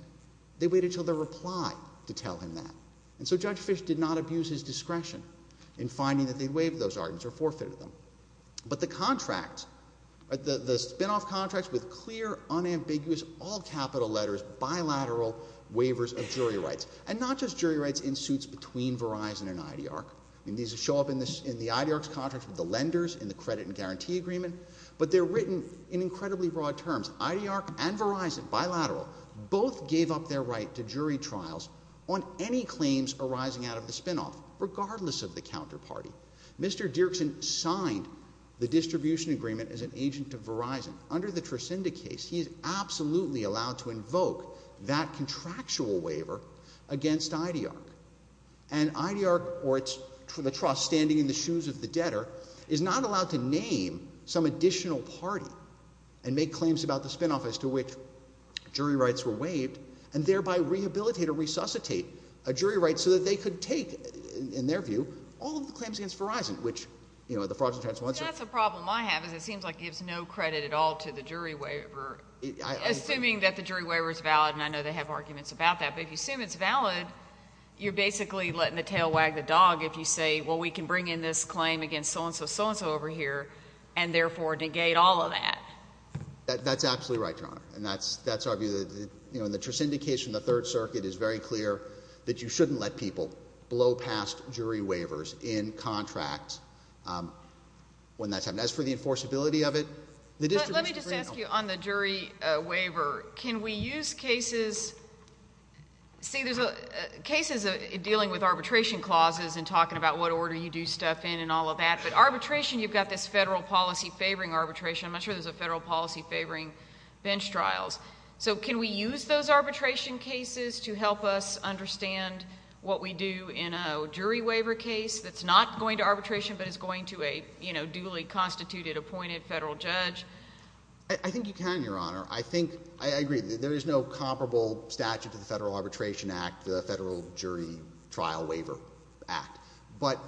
They waited until their reply to tell him that. And so Judge Fish did not abuse his discretion in finding that they'd waived those arguments or forfeited them. But the contract, the spinoff contracts with clear, unambiguous, all capital letters, bilateral waivers of jury rights, and not just jury rights in suits between Verizon and IDR, and these show up in the IDR's contract with the lenders in the credit and guarantee agreement, but they're written in incredibly broad terms. IDR and Verizon, bilateral, both gave up their right to jury trials on any claims arising out of the spinoff, regardless of the counterparty. Mr. Dirksen signed the distribution agreement as an agent of Verizon. Under the Trascinda case, he's absolutely allowed to invoke that contractual waiver against IDR. And IDR, or the trust standing in the shoes of the debtor, is not allowed to name some of the spinoffs as to which jury rights were waived, and thereby rehabilitate or resuscitate a jury right so that they could take, in their view, all of the claims against Verizon, which, you know, the frauds and transplants are— So that's a problem I have, is it seems like it gives no credit at all to the jury waiver. Assuming that the jury waiver is valid, and I know they have arguments about that, but if you assume it's valid, you're basically letting the tail wag the dog if you say, well, we can bring in this claim against so-and-so, so-and-so over here, and therefore negate all of that. That's absolutely right, Your Honor, and that's, that's our view that, you know, in the Trascinda case from the Third Circuit, it's very clear that you shouldn't let people blow past jury waivers in contracts when that's happened. As for the enforceability of it, the distribution agreement— Let me just ask you on the jury waiver, can we use cases—see, there's cases dealing with arbitration clauses and talking about what order you do stuff in and all of that, but arbitration, you've got this federal policy favoring arbitration, I'm not sure there's a federal policy favoring bench trials. So can we use those arbitration cases to help us understand what we do in a jury waiver case that's not going to arbitration but is going to a, you know, duly constituted, appointed federal judge? I think you can, Your Honor. I think, I agree, there is no comparable statute to the Federal Arbitration Act, the Federal Jury Trial Waiver Act, but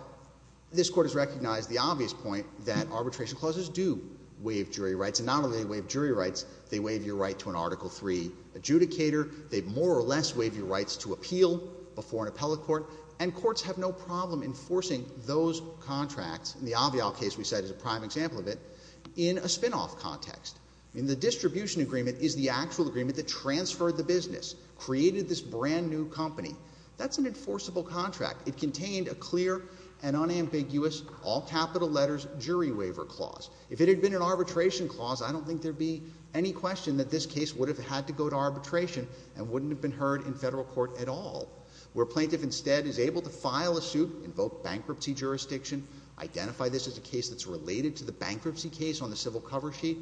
this Court has recognized the obvious point that arbitration clauses do waive jury rights, and not only do they waive jury rights, they waive your right to an Article III adjudicator, they more or less waive your rights to appeal before an appellate court, and courts have no problem enforcing those contracts—in the Avial case we said is a prime example of it—in a spinoff context. The distribution agreement is the actual agreement that transferred the business, created this brand-new company. That's an enforceable contract. It contained a clear and unambiguous all capital letters jury waiver clause. If it had been an arbitration clause, I don't think there'd be any question that this case would have had to go to arbitration and wouldn't have been heard in federal court at all. Where a plaintiff instead is able to file a suit, invoke bankruptcy jurisdiction, identify this as a case that's related to the bankruptcy case on the civil cover sheet,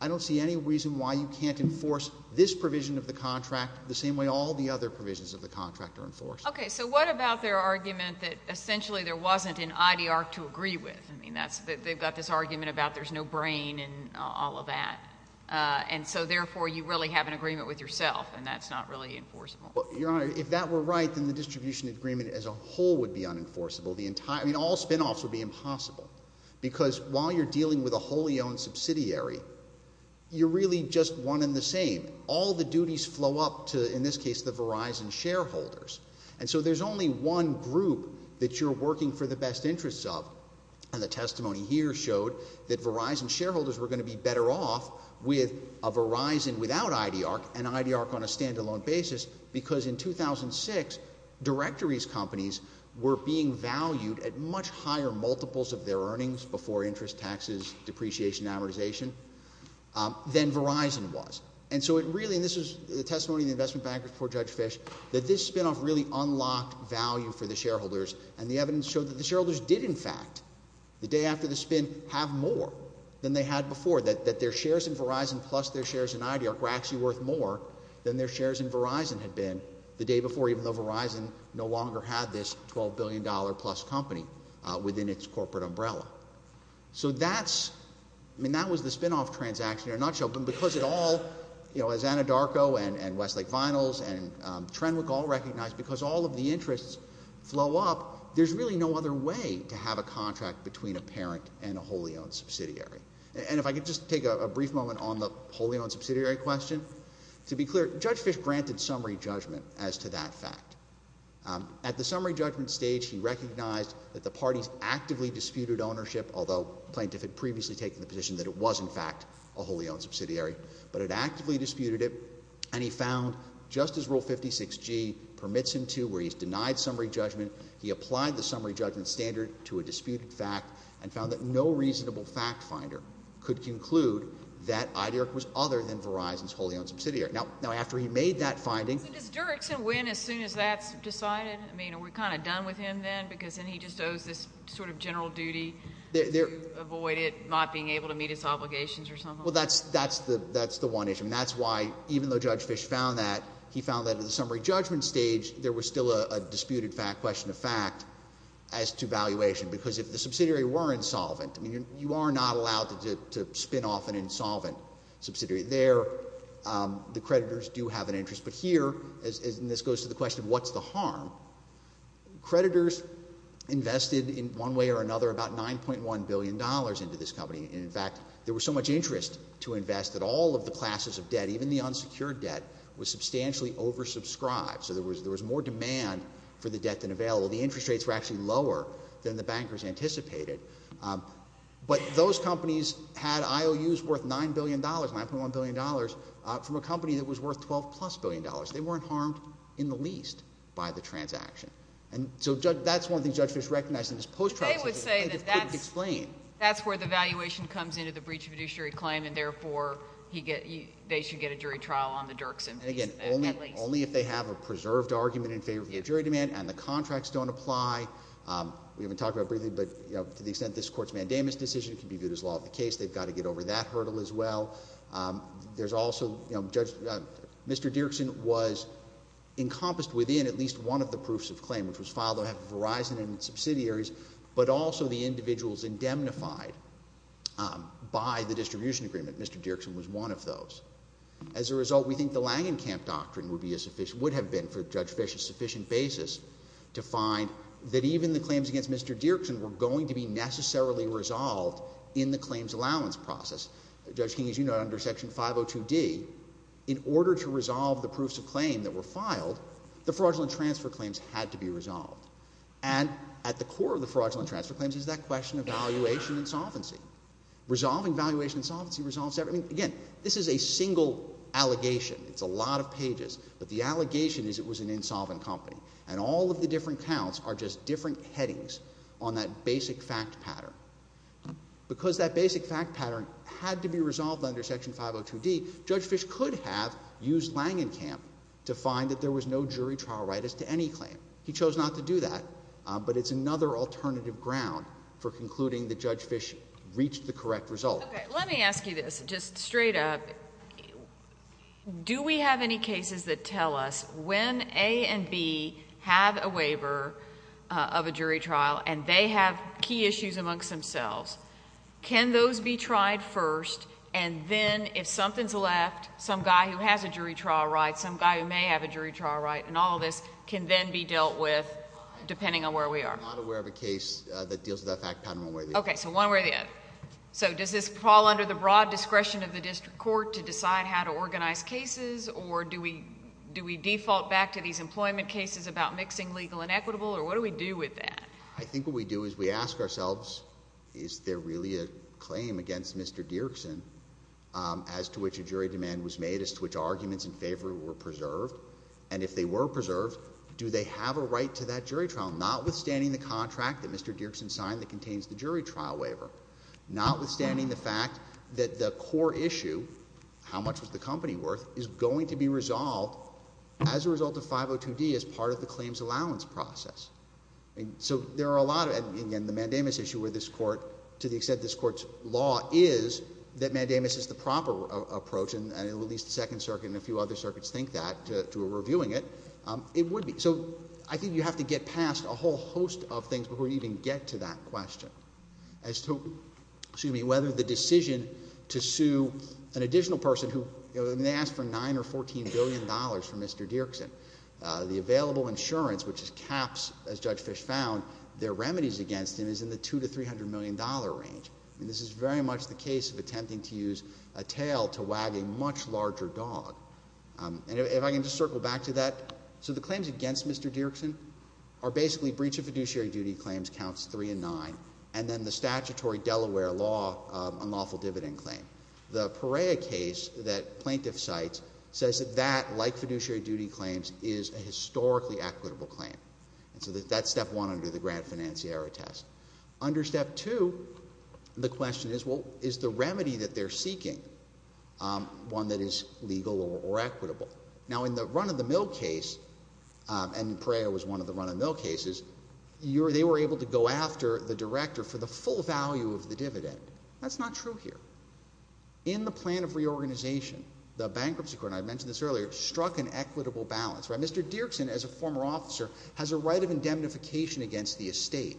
I don't see any reason why you can't enforce this provision of the contract the same way all the other provisions of the contract are enforced. Okay, so what about their argument that essentially there wasn't an IDR to agree with? I mean, that's—they've got this argument about there's no brain and all of that, and so therefore you really have an agreement with yourself, and that's not really enforceable. Well, Your Honor, if that were right, then the distribution agreement as a whole would be unenforceable. The entire—I mean, all spinoffs would be impossible, because while you're dealing with a wholly owned subsidiary, you're really just one and the same. All the duties flow up to, in this case, the Verizon shareholders, and so there's only one group that you're working for the best interests of, and the testimony here showed that Verizon shareholders were going to be better off with a Verizon without IDR and IDR on a standalone basis, because in 2006, directories companies were being valued at much higher multiples of their earnings before interest taxes, depreciation, amortization, than Verizon was. And so it really—and this is the testimony of the investment bankers before Judge Fish—that this spinoff really unlocked value for the shareholders, and the evidence showed that the shareholders did, in fact, the day after the spin, have more than they had before, that their shares in Verizon plus their shares in IDR were actually worth more than their shares in Verizon had been the day before, even though Verizon no longer had this $12 billion-plus company within its corporate umbrella. So that's—I mean, that was the spinoff transaction in a nutshell, but because it all, you know, as Anadarko and Westlake Vinyls and Trenwick all recognized, because all of the interests flow up, there's really no other way to have a contract between a parent and a wholly-owned subsidiary. And if I could just take a brief moment on the wholly-owned subsidiary question. To be clear, Judge Fish granted summary judgment as to that fact. At the summary judgment stage, he recognized that the parties actively disputed ownership, although plaintiff had previously taken the position that it was, in fact, a wholly-owned subsidiary, but had actively disputed it, and he found, just as Rule 56G permits him to, where he's denied summary judgment, he applied the summary judgment standard to a disputed fact and found that no reasonable fact-finder could conclude that IDR was other than Verizon's wholly-owned subsidiary. Now, after he made that finding — I mean, does Durexon win as soon as that's decided? I mean, are we kind of done with him then, because then he just owes this sort of general duty to avoid it, not being able to meet his obligations or something like that? Well, that's the one issue. I mean, that's why, even though Judge Fish found that, he found that at the summary judgment stage, there was still a disputed fact, question of fact, as to valuation, because if the subsidiary were insolvent, I mean, you are not allowed to spin off an insolvent subsidiary. There, the creditors do have an interest. But here, and this goes to the question, what's the harm? Creditors invested, in one way or another, about $9.1 billion into this company. In fact, there was so much interest to invest that all of the classes of debt, even the unsecured debt, was substantially oversubscribed. So there was more demand for the debt than available. The interest rates were actually lower than the bankers anticipated. But those companies had IOUs worth $9 billion, $9.1 billion, from a company that was worth $12-plus billion. They weren't harmed in the least by the transaction. And so that's one thing Judge Fish recognized in his post-trial decision. They would say that that's— He just couldn't explain. That's where the valuation comes into the breach of a judiciary claim, and therefore they should get a jury trial on the Dirksen piece, at least. And again, only if they have a preserved argument in favor of the jury demand, and the contracts don't apply. We haven't talked about it briefly, but, you know, to the extent this Court's mandamus decision can be viewed as law of the case, they've got to get over that hurdle as well. There's also, you know, Judge—Mr. Dirksen was encompassed within at least one of the proofs of claim, which was filed at Verizon and its subsidiaries, but also the individuals indemnified by the distribution agreement. Mr. Dirksen was one of those. As a result, we think the Langenkamp doctrine would be a sufficient—would have been, for Mr. Dirksen were going to be necessarily resolved in the claims allowance process. Judge King, as you know, under Section 502D, in order to resolve the proofs of claim that were filed, the fraudulent transfer claims had to be resolved. And at the core of the fraudulent transfer claims is that question of valuation insolvency. Resolving valuation insolvency resolves everything. Again, this is a single allegation. It's a lot of pages. But the allegation is it was an insolvent company. And all of the different counts are just different headings on that basic fact pattern. Because that basic fact pattern had to be resolved under Section 502D, Judge Fish could have used Langenkamp to find that there was no jury trial right as to any claim. He chose not to do that. But it's another alternative ground for concluding that Judge Fish reached the correct result. Let me ask you this, just straight up. Do we have any cases that tell us when A and B have a waiver of a jury trial and they have key issues amongst themselves, can those be tried first and then if something's left, some guy who has a jury trial right, some guy who may have a jury trial right, and all of this can then be dealt with depending on where we are? I'm not aware of a case that deals with that fact pattern one way or the other. Okay. So one way or the other. So does this fall under the broad discretion of the district court to decide how to organize cases or do we default back to these employment cases about mixing legal and equitable or what do we do with that? I think what we do is we ask ourselves, is there really a claim against Mr. Dirksen as to which a jury demand was made, as to which arguments in favor were preserved? And if they were preserved, do they have a right to that jury trial, not withstanding the contract that Mr. Dirksen signed that contains the jury trial waiver, not withstanding the fact that the core issue, how much was the company worth, is going to be resolved as a result of 502D as part of the claims allowance process. So there are a lot of, and again, the Mandamus issue where this Court, to the extent this Court's law is that Mandamus is the proper approach and at least the Second Circuit and a few other circuits think that to reviewing it, it would be. So I think you have to get past a whole host of things before you even get to that question as to whether the decision to sue an additional person who, they asked for $9 or $14 billion from Mr. Dirksen. The available insurance, which is caps, as Judge Fish found, their remedies against him is in the $200 to $300 million range. And this is very much the case of attempting to use a tail to wag a much larger dog. And if I can just circle back to that. So the claims against Mr. Dirksen are basically breach of fiduciary duty claims counts three and nine, and then the statutory Delaware law unlawful dividend claim. The Perea case that plaintiff cites says that that, like fiduciary duty claims, is a historically equitable claim. And so that's step one under the Grant Financiera test. Under step two, the question is, well, is the remedy that they're seeking, one that is legal or equitable? Now, in the run-of-the-mill case, and Perea was one of the run-of-the-mill cases, they were able to go after the director for the full value of the dividend. That's not true here. In the plan of reorganization, the bankruptcy court, and I mentioned this earlier, struck an equitable balance. Mr. Dirksen, as a former officer, has a right of indemnification against the estate.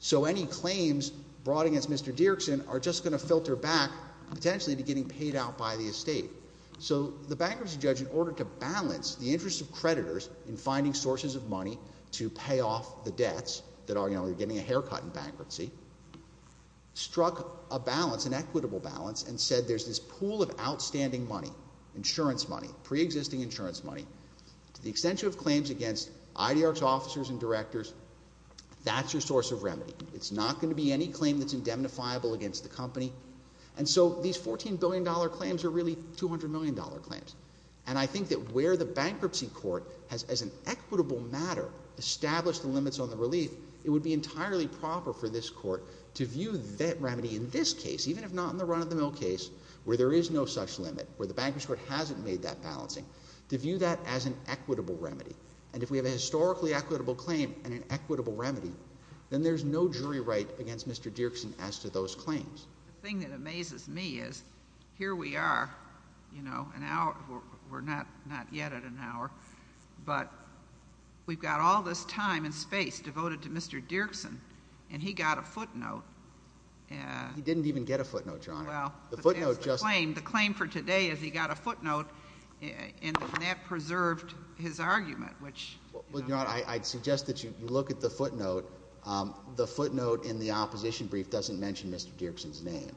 So any claims brought against Mr. Dirksen are just going to filter back potentially to getting paid out by the estate. So the bankruptcy judge, in order to balance the interest of creditors in finding sources of money to pay off the debts that are, you know, you're getting a haircut in bankruptcy, struck a balance, an equitable balance, and said there's this pool of outstanding money, insurance money, preexisting insurance money, to the extension of claims against IDR's officers and directors, that's your source of remedy. It's not going to be any claim that's indemnifiable against the company. And so these $14 billion claims are really $200 million claims. And I think that where the bankruptcy court has, as an equitable matter, established the limits on the relief, it would be entirely proper for this court to view that remedy in this case, even if not in the run-of-the-mill case, where there is no such limit, where the bankruptcy court hasn't made that balancing, to view that as an equitable remedy. And if we have a historically equitable claim and an equitable remedy, then there's no jury right against Mr. Dirksen as to those claims. The thing that amazes me is, here we are, you know, an hour, we're not yet at an hour, but we've got all this time and space devoted to Mr. Dirksen, and he got a footnote. He didn't even get a footnote, Your Honor. Well, but that's the claim. The footnote just— The claim for today is he got a footnote, and that preserved his argument, which— Well, Your Honor, I'd suggest that you look at the footnote. The footnote in the opposition brief doesn't mention Mr. Dirksen's name.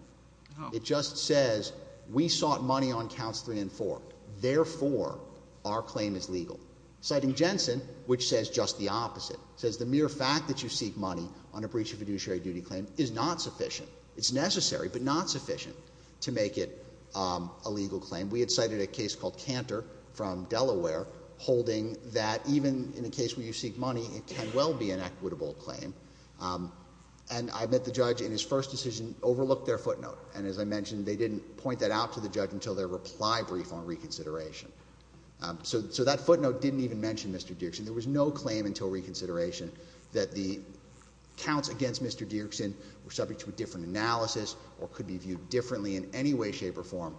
Oh. It just says, we sought money on counts 3 and 4. Therefore, our claim is legal. Citing Jensen, which says just the opposite, says the mere fact that you seek money on a breach of fiduciary duty claim is not sufficient. It's necessary, but not sufficient to make it a legal claim. We had cited a case called Cantor from Delaware holding that even in a case where you seek money, it can well be an equitable claim, and I admit the judge in his first decision overlooked their footnote. And as I mentioned, they didn't point that out to the judge until their reply brief on reconsideration. So that footnote didn't even mention Mr. Dirksen. There was no claim until reconsideration that the counts against Mr. Dirksen were subject to a different analysis or could be viewed differently in any way, shape, or form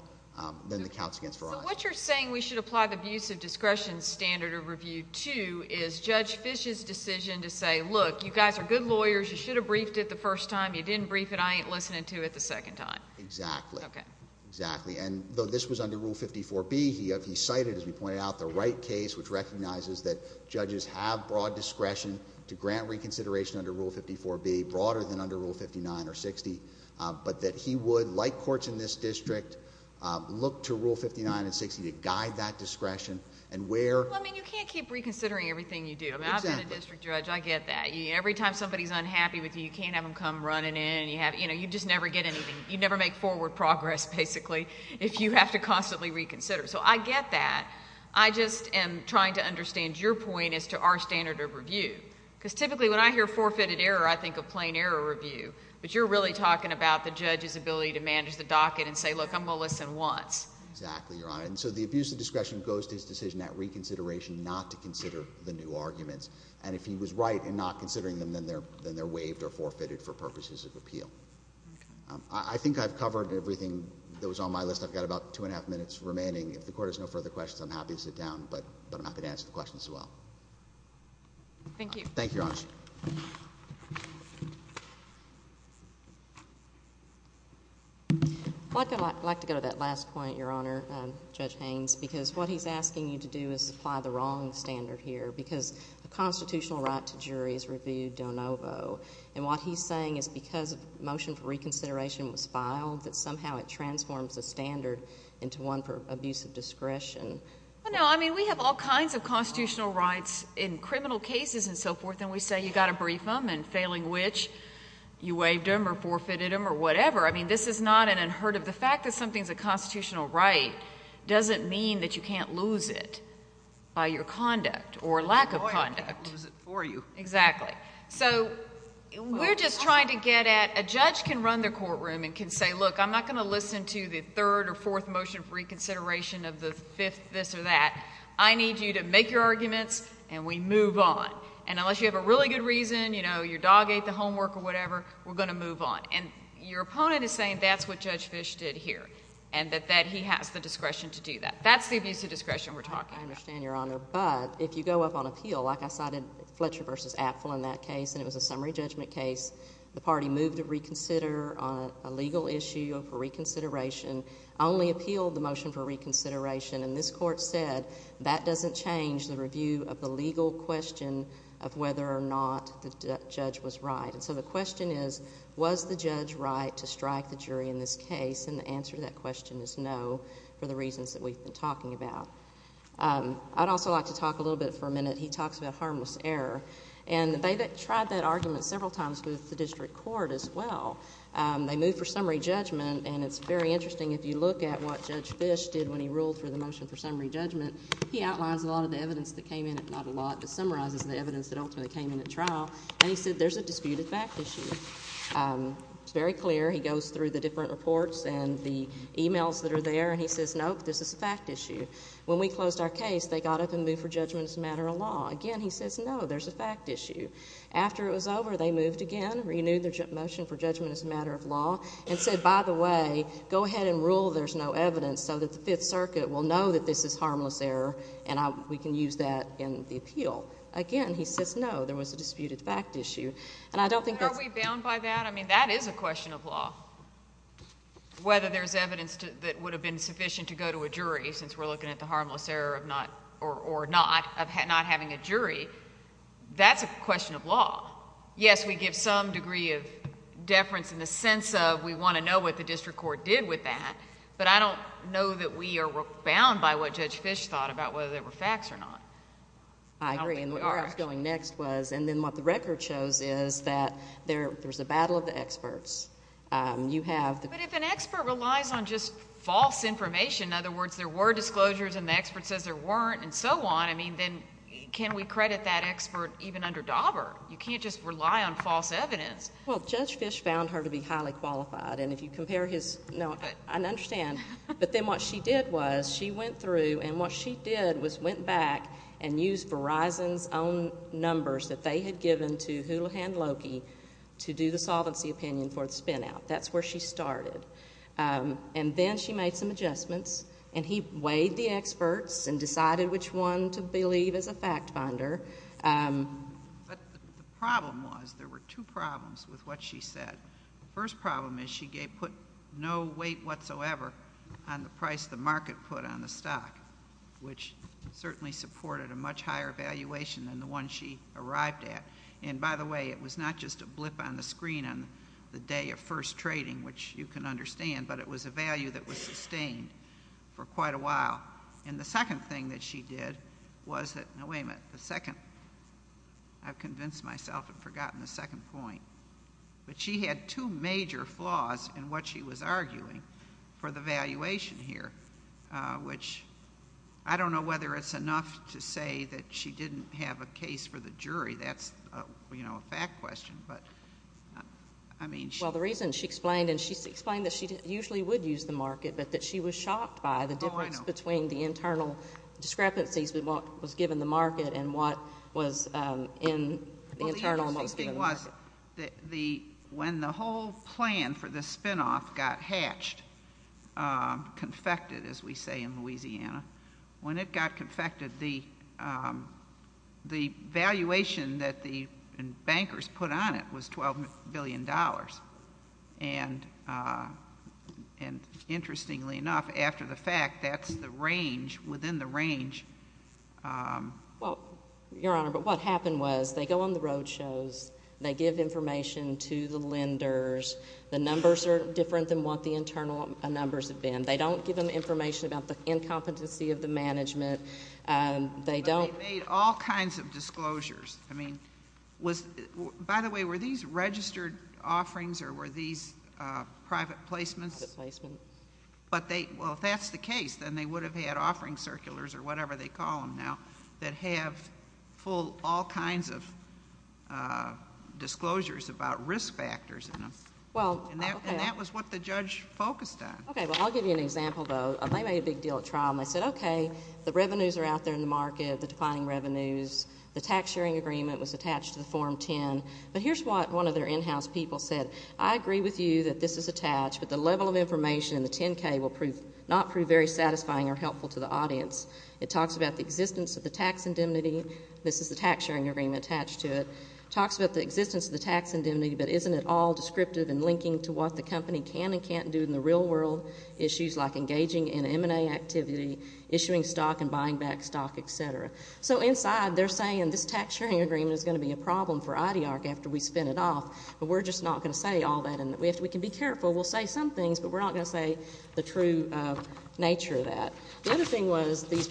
than the counts against Verizon. So what you're saying we should apply the abuse of discretion standard of review to is Judge Fish's decision to say, look, you guys are good lawyers. You should have briefed it the first time. You didn't brief it. I ain't listening to it the second time. Exactly. Okay. Exactly. And though this was under Rule 54B, he cited, as we pointed out, the right case, which recognizes that judges have broad discretion to grant reconsideration under Rule 54B, broader than under Rule 59 or 60, but that he would, like courts in this district, look to Rule 59 and 60 to guide that discretion and where... Well, I mean, you can't keep reconsidering everything you do. Exactly. I mean, I've been a district judge. I get that. Every time somebody's unhappy with you, you can't have them come running in. You just never get anything. You never make forward progress, basically, if you have to constantly reconsider. So I get that. I just am trying to understand your point as to our standard of review, because typically when I hear forfeited error, I think of plain error review, but you're really talking about the judge's ability to manage the docket and say, look, I'm going to listen once. Exactly, Your Honor. And so the abuse of discretion goes to his decision at reconsideration not to consider the new arguments. And if he was right in not considering them, then they're waived or forfeited for purposes of appeal. Okay. I think I've covered everything that was on my list. I've got about two and a half minutes remaining. If the Court has no further questions, I'm happy to sit down, but I'm happy to answer the questions as well. Thank you. Thank you, Your Honor. Judge? I'd like to go to that last point, Your Honor, Judge Haynes, because what he's asking you to do is apply the wrong standard here, because a constitutional right to jury is reviewed de novo. And what he's saying is because a motion for reconsideration was filed, that somehow it transforms the standard into one for abuse of discretion. No, I mean, we have all kinds of constitutional rights in criminal cases and so forth, and we say you've got to brief them, and failing which, you waived them or forfeited them or whatever. I mean, this is not an unheard of. The fact that something's a constitutional right doesn't mean that you can't lose it by your conduct or lack of conduct. I can't lose it for you. Exactly. So we're just trying to get at a judge can run the courtroom and can say, look, I'm not going to listen to the third or fourth motion for reconsideration of the fifth this or that. I need you to make your arguments, and we move on. And unless you have a really good reason, you know, your dog ate the homework or whatever, we're going to move on. And your opponent is saying that's what Judge Fish did here and that he has the discretion to do that. That's the abuse of discretion we're talking about. I understand, Your Honor. But if you go up on appeal, like I cited Fletcher v. Apfel in that case, and it was a summary judgment case, the party moved to reconsider on a legal issue for reconsideration. I only appealed the motion for reconsideration, and this court said that doesn't change the review of the legal question of whether or not the judge was right. And so the question is, was the judge right to strike the jury in this case? And the answer to that question is no for the reasons that we've been talking about. I'd also like to talk a little bit for a minute. He talks about harmless error, and they tried that argument several times with the district court as well. They moved for summary judgment, and it's very interesting if you look at what Judge Fish did when he ruled for the motion for summary judgment. He outlines a lot of the evidence that came in, if not a lot, but summarizes the evidence that ultimately came in at trial. And he said there's a disputed fact issue. It's very clear. He goes through the different reports and the e-mails that are there, and he says, Nope, this is a fact issue. When we closed our case, they got up and moved for judgment as a matter of law. Again, he says, No, there's a fact issue. After it was over, they moved again, renewed their motion for judgment as a matter of law, and said, By the way, go ahead and rule there's no evidence so that the Fifth Circuit will know that this is harmless error, and we can use that in the appeal. Again, he says, No, there was a disputed fact issue. And I don't think that's— Are we bound by that? I mean, that is a question of law. Whether there's evidence that would have been sufficient to go to a jury, since we're looking at the harmless error or not, of not having a jury, that's a question of law. Yes, we give some degree of deference in the sense of we want to know what judge Fisch thought about whether there were facts or not. I agree. And where I was going next was, and then what the record shows is that there's a battle of the experts. You have the— But if an expert relies on just false information, in other words, there were disclosures and the expert says there weren't and so on, I mean, then can we credit that expert even under Dauber? You can't just rely on false evidence. Well, Judge Fisch found her to be highly qualified, and if you compare his— What she did was, she went through, and what she did was went back and used Verizon's own numbers that they had given to Houlihan Loki to do the solvency opinion for the spin-out. That's where she started. And then she made some adjustments, and he weighed the experts and decided which one to believe as a fact finder. But the problem was, there were two problems with what she said. The first problem is she put no weight whatsoever on the price the market put on the stock, which certainly supported a much higher valuation than the one she arrived at. And by the way, it was not just a blip on the screen on the day of first trading, which you can understand, but it was a value that was sustained for quite a while. And the second thing that she did was that— No, wait a minute. The second—I've convinced myself and forgotten the second point. But she had two major flaws in what she was arguing for the valuation here, which I don't know whether it's enough to say that she didn't have a case for the jury. That's a fact question, but I mean— Well, the reason she explained, and she explained that she usually would use the market, but that she was shocked by the difference between the internal discrepancies with what was given the market and what was in the internal market. When the whole plan for the spinoff got hatched, confected, as we say in Louisiana, when it got confected, the valuation that the bankers put on it was $12 billion. And interestingly enough, after the fact, that's the range, within the range— Well, Your Honor, but what happened was they go on the roadshows. They give information to the lenders. The numbers are different than what the internal numbers have been. They don't give them information about the incompetency of the management. They don't— But they made all kinds of disclosures. I mean, was—by the way, were these registered offerings or were these private placements? Private placements. But they—well, if that's the case, then they would have had offering circulars or whatever they call them now that have full—all kinds of disclosures about risk factors in them. And that was what the judge focused on. Okay. Well, I'll give you an example, though. They made a big deal at trial, and they said, okay, the revenues are out there in the market, the declining revenues. The tax-sharing agreement was attached to the Form 10. But here's what one of their in-house people said. I agree with you that this is attached, but the level of information in the It talks about the existence of the tax indemnity. This is the tax-sharing agreement attached to it. It talks about the existence of the tax indemnity, but isn't it all descriptive and linking to what the company can and can't do in the real world, issues like engaging in M&A activity, issuing stock and buying back stock, et cetera. So inside, they're saying this tax-sharing agreement is going to be a problem for IDARC after we spin it off. But we're just not going to say all that. And we have to—we can be careful. We'll say some things, but we're not going to say the true nature of that. The other thing was these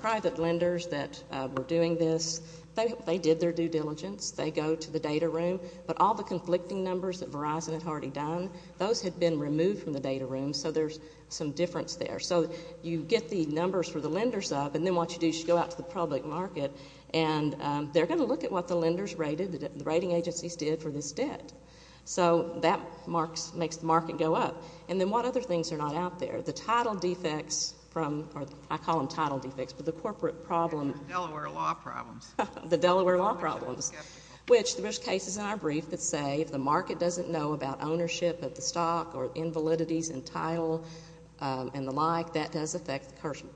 private lenders that were doing this, they did their due diligence. They go to the data room. But all the conflicting numbers that Verizon had already done, those had been removed from the data room. So there's some difference there. So you get the numbers for the lenders up, and then what you do is you go out to the public market, and they're going to look at what the lenders rated, the rating agencies did for this debt. So that makes the market go up. And then what other things are not out there? The title defects from—I call them title defects, but the corporate problem— Delaware law problems. The Delaware law problems, which there's cases in our brief that say if the market doesn't know about ownership of the stock or invalidities in title and the like, that does affect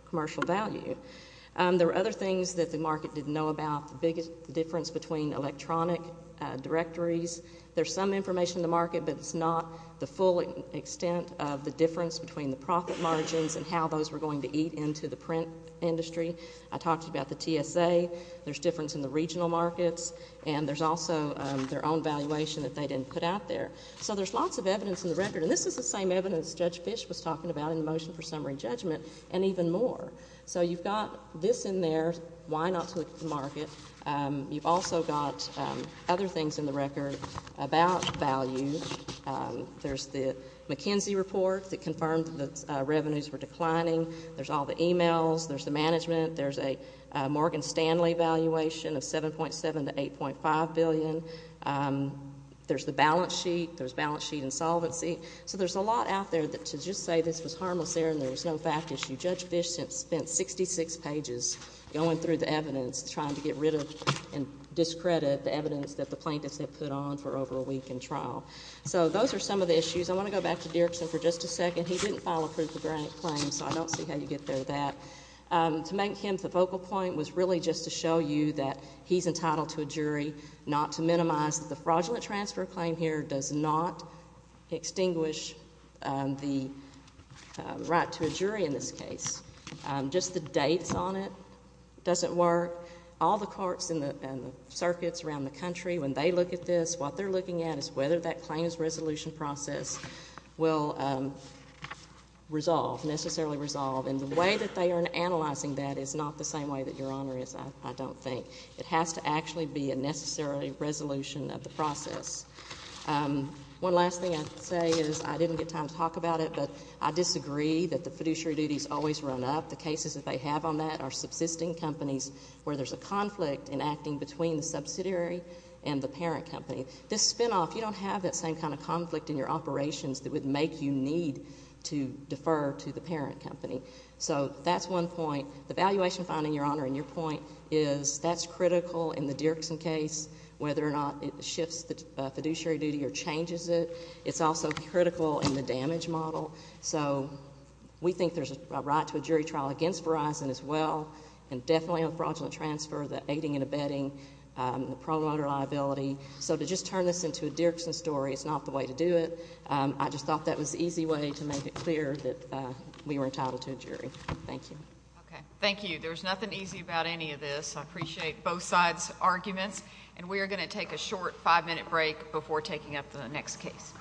commercial value. There are other things that the market didn't know about, the difference between electronic directories. There's some information in the market, but it's not the full extent of the profit margins and how those were going to eat into the print industry. I talked about the TSA. There's difference in the regional markets, and there's also their own valuation that they didn't put out there. So there's lots of evidence in the record, and this is the same evidence Judge Fish was talking about in the motion for summary judgment and even more. So you've got this in there, why not to the market. You've also got other things in the record about value. There's the McKenzie report that confirmed that revenues were declining. There's all the e-mails. There's the management. There's a Morgan Stanley valuation of $7.7 to $8.5 billion. There's the balance sheet. There's balance sheet and solvency. So there's a lot out there to just say this was harmless there and there was no fact issue. Judge Fish spent 66 pages going through the evidence trying to get rid of and discredit the evidence that the plaintiffs had put on for over a week in court. So those are some of the issues. I want to go back to Dirksen for just a second. He didn't file a proof of grant claim, so I don't see how you get there with that. To make him the focal point was really just to show you that he's entitled to a jury, not to minimize the fraudulent transfer claim here does not extinguish the right to a jury in this case. Just the dates on it doesn't work. All the courts and circuits around the country, when they look at this, what that claims resolution process will resolve, necessarily resolve. And the way that they are analyzing that is not the same way that Your Honor is, I don't think. It has to actually be a necessary resolution of the process. One last thing I'd say is I didn't get time to talk about it, but I disagree that the fiduciary duties always run up. The cases that they have on that are subsisting companies where there's a conflict in acting between the subsidiary and the parent company. This spinoff, you don't have that same kind of conflict in your operations that would make you need to defer to the parent company. So that's one point. The valuation finding, Your Honor, and your point is that's critical in the Dirksen case, whether or not it shifts the fiduciary duty or changes it. It's also critical in the damage model. So we think there's a right to a jury trial against Verizon as well, and definitely on fraudulent transfer, the aiding and abetting, the promoter liability. So to just turn this into a Dirksen story is not the way to do it. I just thought that was the easy way to make it clear that we were entitled to a jury. Thank you. Okay. Thank you. There's nothing easy about any of this. I appreciate both sides' arguments. And we are going to take a short five-minute break before taking up the next case.